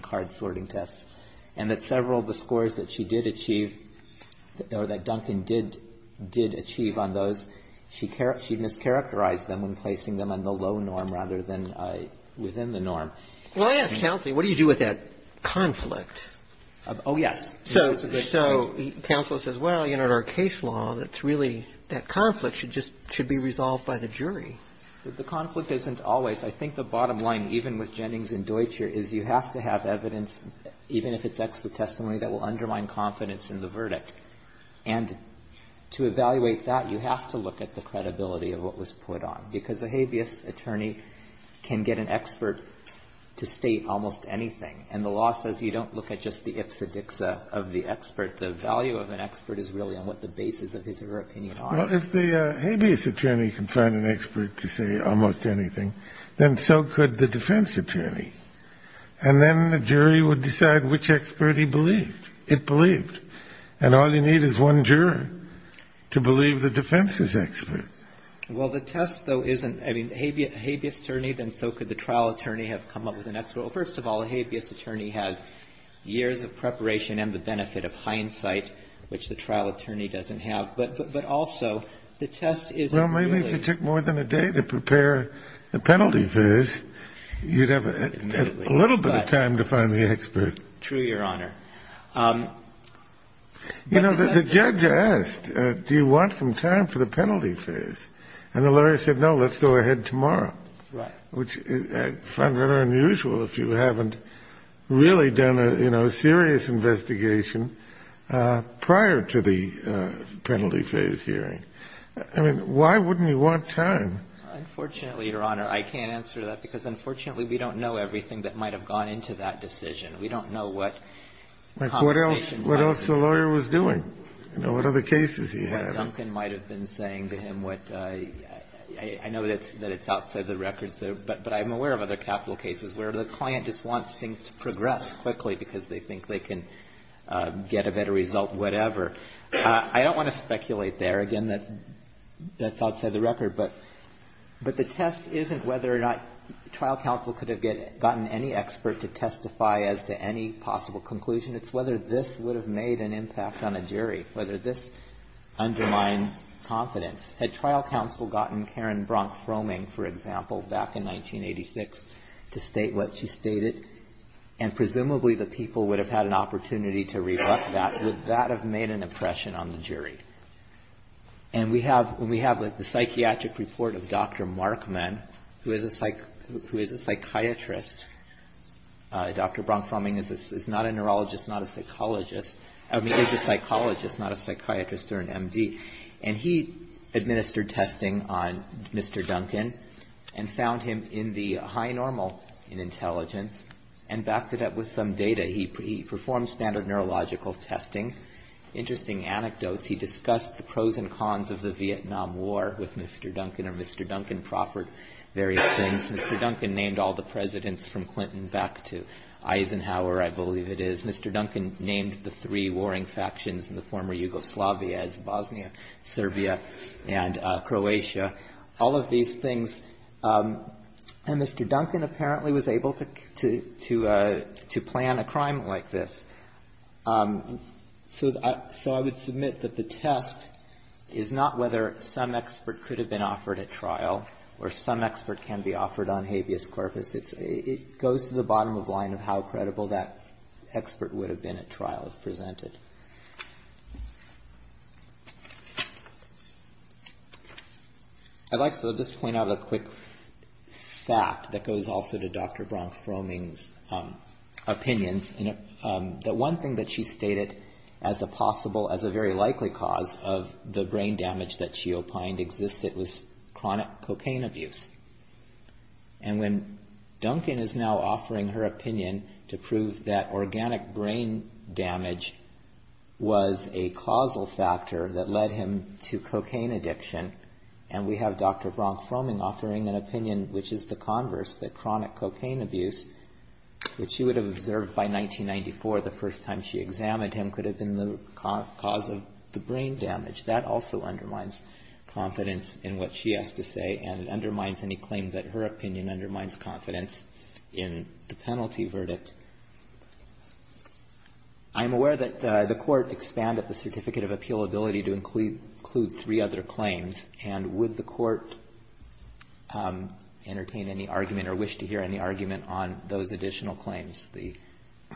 card sorting tests, and that several of the scores that she did achieve or that Duncan did achieve on those, she mischaracterized them when placing them on the low norm rather than within the norm. Well, I ask counsel, what do you do with that conflict? Oh, yes. So counsel says, well, you know, in our case law, that's really that conflict should just be resolved by the jury. The conflict isn't always. I think the bottom line, even with Jennings and Deutscher, is you have to have evidence, even if it's expert testimony, that will undermine confidence in the verdict. And to evaluate that, you have to look at the credibility of what was put on. Because a habeas attorney can get an expert to state almost anything. And the law says you don't look at just the ipsa dixa of the expert. The value of an expert is really on what the basis of his or her opinion are. Well, if the habeas attorney can find an expert to say almost anything, then so could the defense attorney. And then the jury would decide which expert he believed. It believed. And all you need is one juror to believe the defense is expert. Well, the test, though, isn't. I mean, a habeas attorney, then so could the trial attorney have come up with an expert. Well, first of all, a habeas attorney has years of preparation and the benefit of hindsight, which the trial attorney doesn't have. But also, the test isn't really. Well, maybe if you took more than a day to prepare the penalty viz, you'd have a little bit of time to find the expert. True, Your Honor. You know, the judge asked, do you want some time for the penalty viz? And the lawyer said, no, let's go ahead tomorrow. Right. Which I find rather unusual if you haven't really done a, you know, serious investigation prior to the penalty viz hearing. I mean, why wouldn't he want time? Unfortunately, Your Honor, I can't answer that because, unfortunately, we don't know everything that might have gone into that decision. We don't know what complications might have been. Like what else the lawyer was doing. You know, what other cases he had. What Duncan might have been saying to him. I know that it's outside the records, but I'm aware of other capital cases where the client just wants things to progress quickly because they think they can get a better result, whatever. I don't want to speculate there. Again, that's outside the record. But the test isn't whether or not trial counsel could have gotten any expert to testify as to any possible conclusion. It's whether this would have made an impact on a jury, whether this undermines confidence. Had trial counsel gotten Karen Bronk-Froeming, for example, back in 1986 to state what she stated, and presumably the people would have had an opportunity to reflect that, would that have made an impression on the jury? And we have the psychiatric report of Dr. Markman, who is a psychiatrist. Dr. Bronk-Froeming is not a neurologist, not a psychologist. I mean, is a psychologist, not a psychiatrist or an M.D. And he administered testing on Mr. Duncan and found him in the high normal in intelligence. And backed it up with some data. He performed standard neurological testing. Interesting anecdotes. He discussed the pros and cons of the Vietnam War with Mr. Duncan, and Mr. Duncan proffered various things. Mr. Duncan named all the presidents from Clinton back to Eisenhower, I believe it is. Mr. Duncan named the three warring factions in the former Yugoslavia as Bosnia, Serbia, and Croatia. All of these things. And Mr. Duncan apparently was able to plan a crime like this. So I would submit that the test is not whether some expert could have been offered at trial or some expert can be offered on habeas corpus. It goes to the bottom of the line of how credible that expert would have been at trial if presented. I'd like to just point out a quick fact that goes also to Dr. Bronk-Froeming's opinions. The one thing that she stated as a possible, as a very likely cause of the brain damage that she opined existed was chronic cocaine abuse. And when Duncan is now offering her opinion to prove that organic brain damage was a causal factor that led him to cocaine addiction, and we have Dr. Bronk-Froeming offering an opinion, which is the converse, that chronic cocaine abuse, which she would have observed by 1994, the first time she examined him, could have been the cause of the brain damage. That also undermines confidence in what she has to say, and it undermines any claim that her opinion undermines confidence in the penalty verdict. I'm aware that the Court expanded the Certificate of Appeal ability to include three other claims. And would the Court entertain any argument or wish to hear any argument on those additional claims, the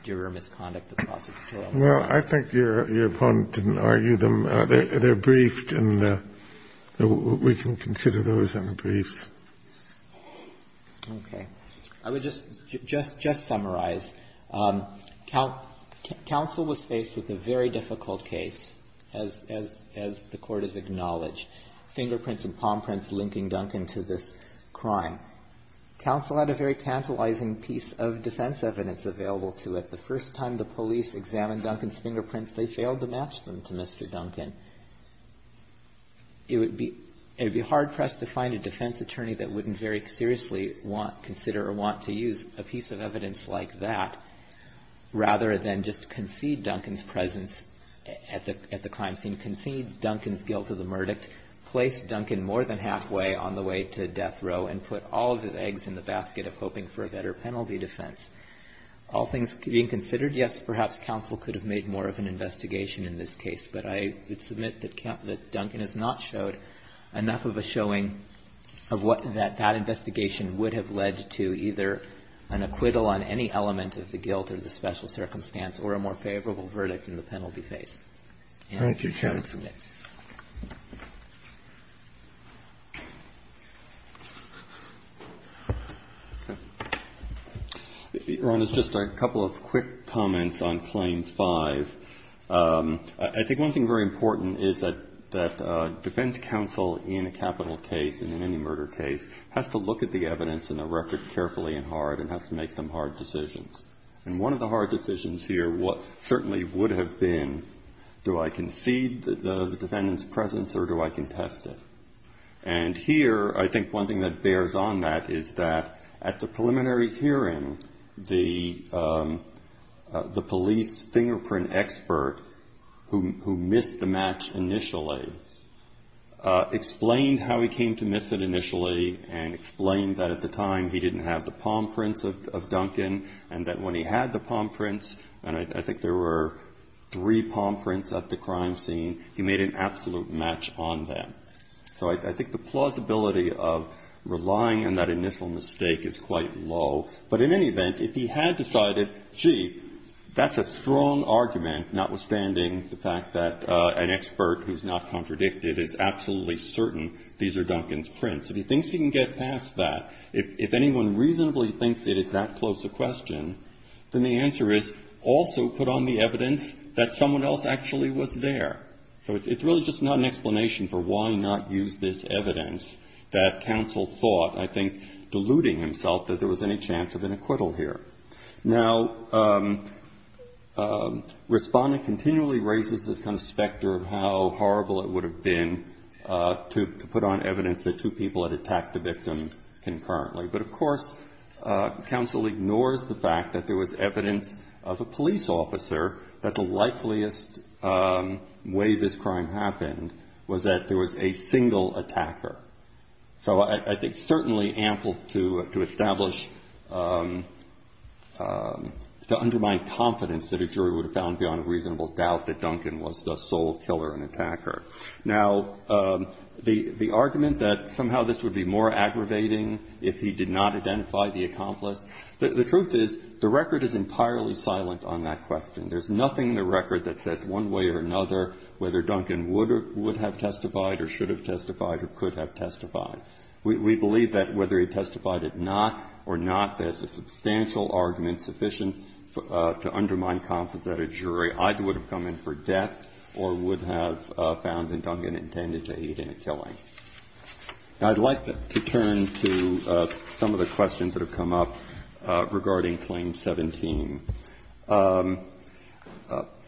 juror misconduct, the prosecution? Well, I think your opponent didn't argue them. They're briefed, and we can consider those in the briefs. Okay. I would just summarize. Counsel was faced with a very difficult case, as the Court has acknowledged, fingerprints and palm prints linking Duncan to this crime. Counsel had a very tantalizing piece of defense evidence available to it. The first time the police examined Duncan's fingerprints, they failed to match them to Mr. Duncan. It would be hard-pressed to find a defense attorney that wouldn't very seriously consider or want to use a piece of evidence like that, rather than just concede Duncan's presence at the crime scene, concede Duncan's guilt of the verdict, place Duncan more than halfway on the way to death row, and put all of his eggs in the basket of hoping for a better penalty defense. All things being considered, yes, perhaps counsel could have made more of an investigation in this case, but I would submit that Duncan has not showed enough of a showing of what that investigation would have led to, either an acquittal on any element of the guilt or the special circumstance, or a more favorable verdict in the penalty phase. Thank you, counsel. Thank you, Your Honor. Ron, there's just a couple of quick comments on Claim 5. I think one thing very important is that defense counsel in a capital case and in any murder case has to look at the evidence and the record carefully and hard and has to make some hard decisions. And one of the hard decisions here certainly would have been do I concede the defendant's presence or do I contest it? And here I think one thing that bears on that is that at the preliminary hearing the police fingerprint expert who missed the match initially explained how he came to miss it initially and explained that at the time he didn't have the palm prints of Duncan and that when he had the palm prints, and I think there were three palm prints at the crime scene, he made an absolute match on them. So I think the plausibility of relying on that initial mistake is quite low. But in any event, if he had decided, gee, that's a strong argument, notwithstanding the fact that an expert who's not contradicted is absolutely certain these are Duncan's prints, if he thinks he can get past that, if anyone reasonably thinks it is that close a question, then the answer is also put on the evidence that someone else actually was there. So it's really just not an explanation for why not use this evidence that counsel thought, I think, deluding himself that there was any chance of an acquittal here. Now, Respondent continually raises this kind of specter of how horrible it would have been to put on evidence that two people had attacked the victim concurrently. But, of course, counsel ignores the fact that there was evidence of a police officer that the likeliest way this crime happened was that there was a single attacker. So I think certainly ample to establish, to undermine confidence that a jury would have found beyond a reasonable doubt that Duncan was the sole killer and attacker. Now, the argument that somehow this would be more aggravating if he did not identify the accomplice, the truth is the record is entirely silent on that question. There's nothing in the record that says one way or another whether Duncan would have testified or should have testified or could have testified. We believe that whether he testified or not, there's a substantial argument sufficient to undermine confidence that a jury either would have come in for death or would have found that Duncan intended to aid in a killing. Now, I'd like to turn to some of the questions that have come up regarding Claim 17.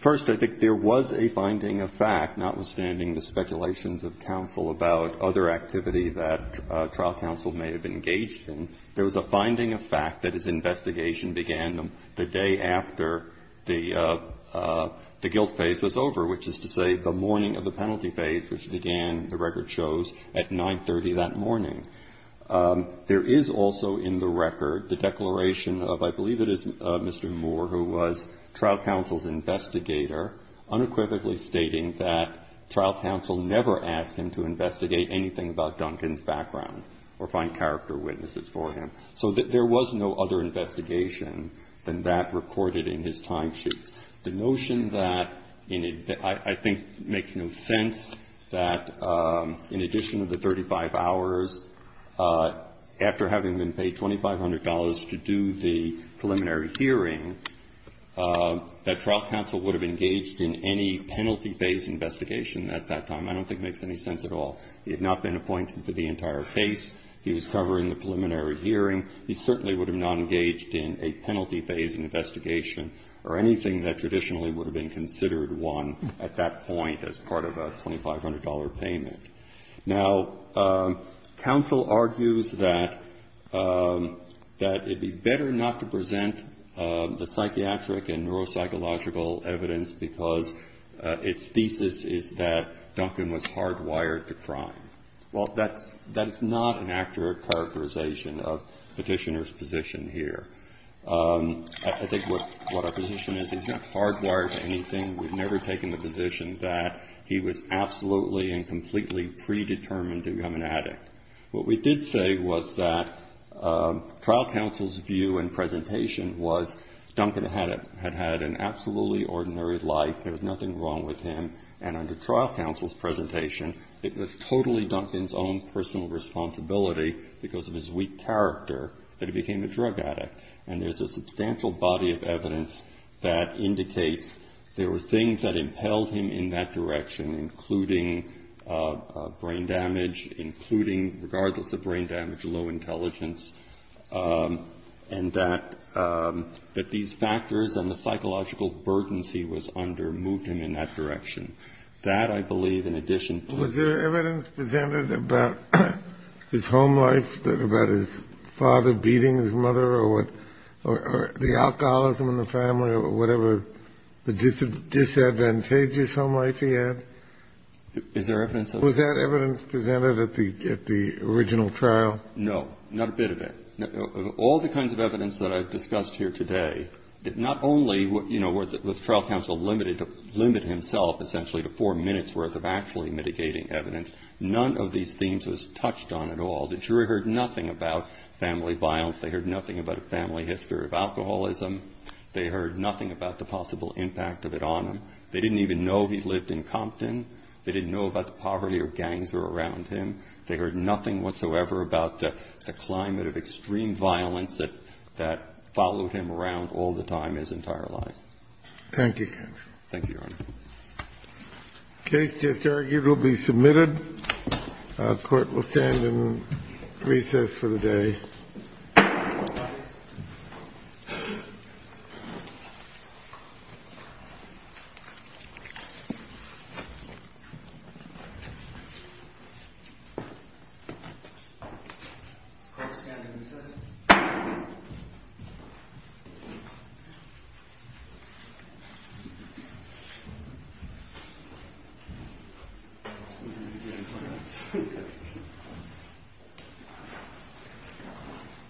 First, I think there was a finding of fact, notwithstanding the speculations of counsel about other activity that trial counsel may have engaged in, there was a finding of fact that his investigation began the day after the guilt phase was over which is to say the morning of the penalty phase which began, the record shows, at 9.30 that morning. There is also in the record the declaration of, I believe it is Mr. Moore who was trial counsel's investigator, unequivocally stating that trial counsel never asked him to investigate anything about Duncan's background or find character witnesses for him. So there was no other investigation than that recorded in his timesheets. The notion that I think makes no sense that in addition to the 35 hours, after having been paid $2,500 to do the preliminary hearing, that trial counsel would have engaged in any penalty phase investigation at that time, I don't think makes any sense at all. He had not been appointed for the entire case. He was covering the preliminary hearing. He certainly would have not engaged in a penalty phase investigation or anything that traditionally would have been considered one at that point as part of a $2,500 payment. Now, counsel argues that it would be better not to present the psychiatric and neuropsychological evidence because its thesis is that Duncan was hardwired to crime. Well, that's not an accurate characterization of Petitioner's position here. I think what our position is, he's not hardwired to anything. We've never taken the position that he was absolutely and completely predetermined to become an addict. What we did say was that trial counsel's view and presentation was Duncan had had an absolutely ordinary life. There was nothing wrong with him. And under trial counsel's presentation, it was totally Duncan's own personal responsibility because of his weak character that he became a drug addict. And there's a substantial body of evidence that indicates there were things that impelled him in that direction, including brain damage, including, regardless of brain damage, low intelligence, and that these factors and the psychological burdens he was under moved him in that direction. That, I believe, in addition to the other evidence presented about his home life, about his father beating his mother or the alcoholism in the family or whatever the disadvantageous home life he had. Is there evidence of that? Was that evidence presented at the original trial? No. Not a bit of it. All the kinds of evidence that I've discussed here today, not only was trial counsel limited to limit himself essentially to four minutes' worth of actually mitigating evidence, none of these themes was touched on at all. The jury heard nothing about family violence. They heard nothing about a family history of alcoholism. They heard nothing about the possible impact of it on him. They didn't even know he lived in Compton. They didn't know about the poverty or gangs that were around him. They heard nothing whatsoever about the climate of extreme violence that followed him around all the time his entire life. Thank you, counsel. Thank you, Your Honor. The case just argued will be submitted. The Court will stand and recess for the day. All rise. The Court will stand and recess. Thank you.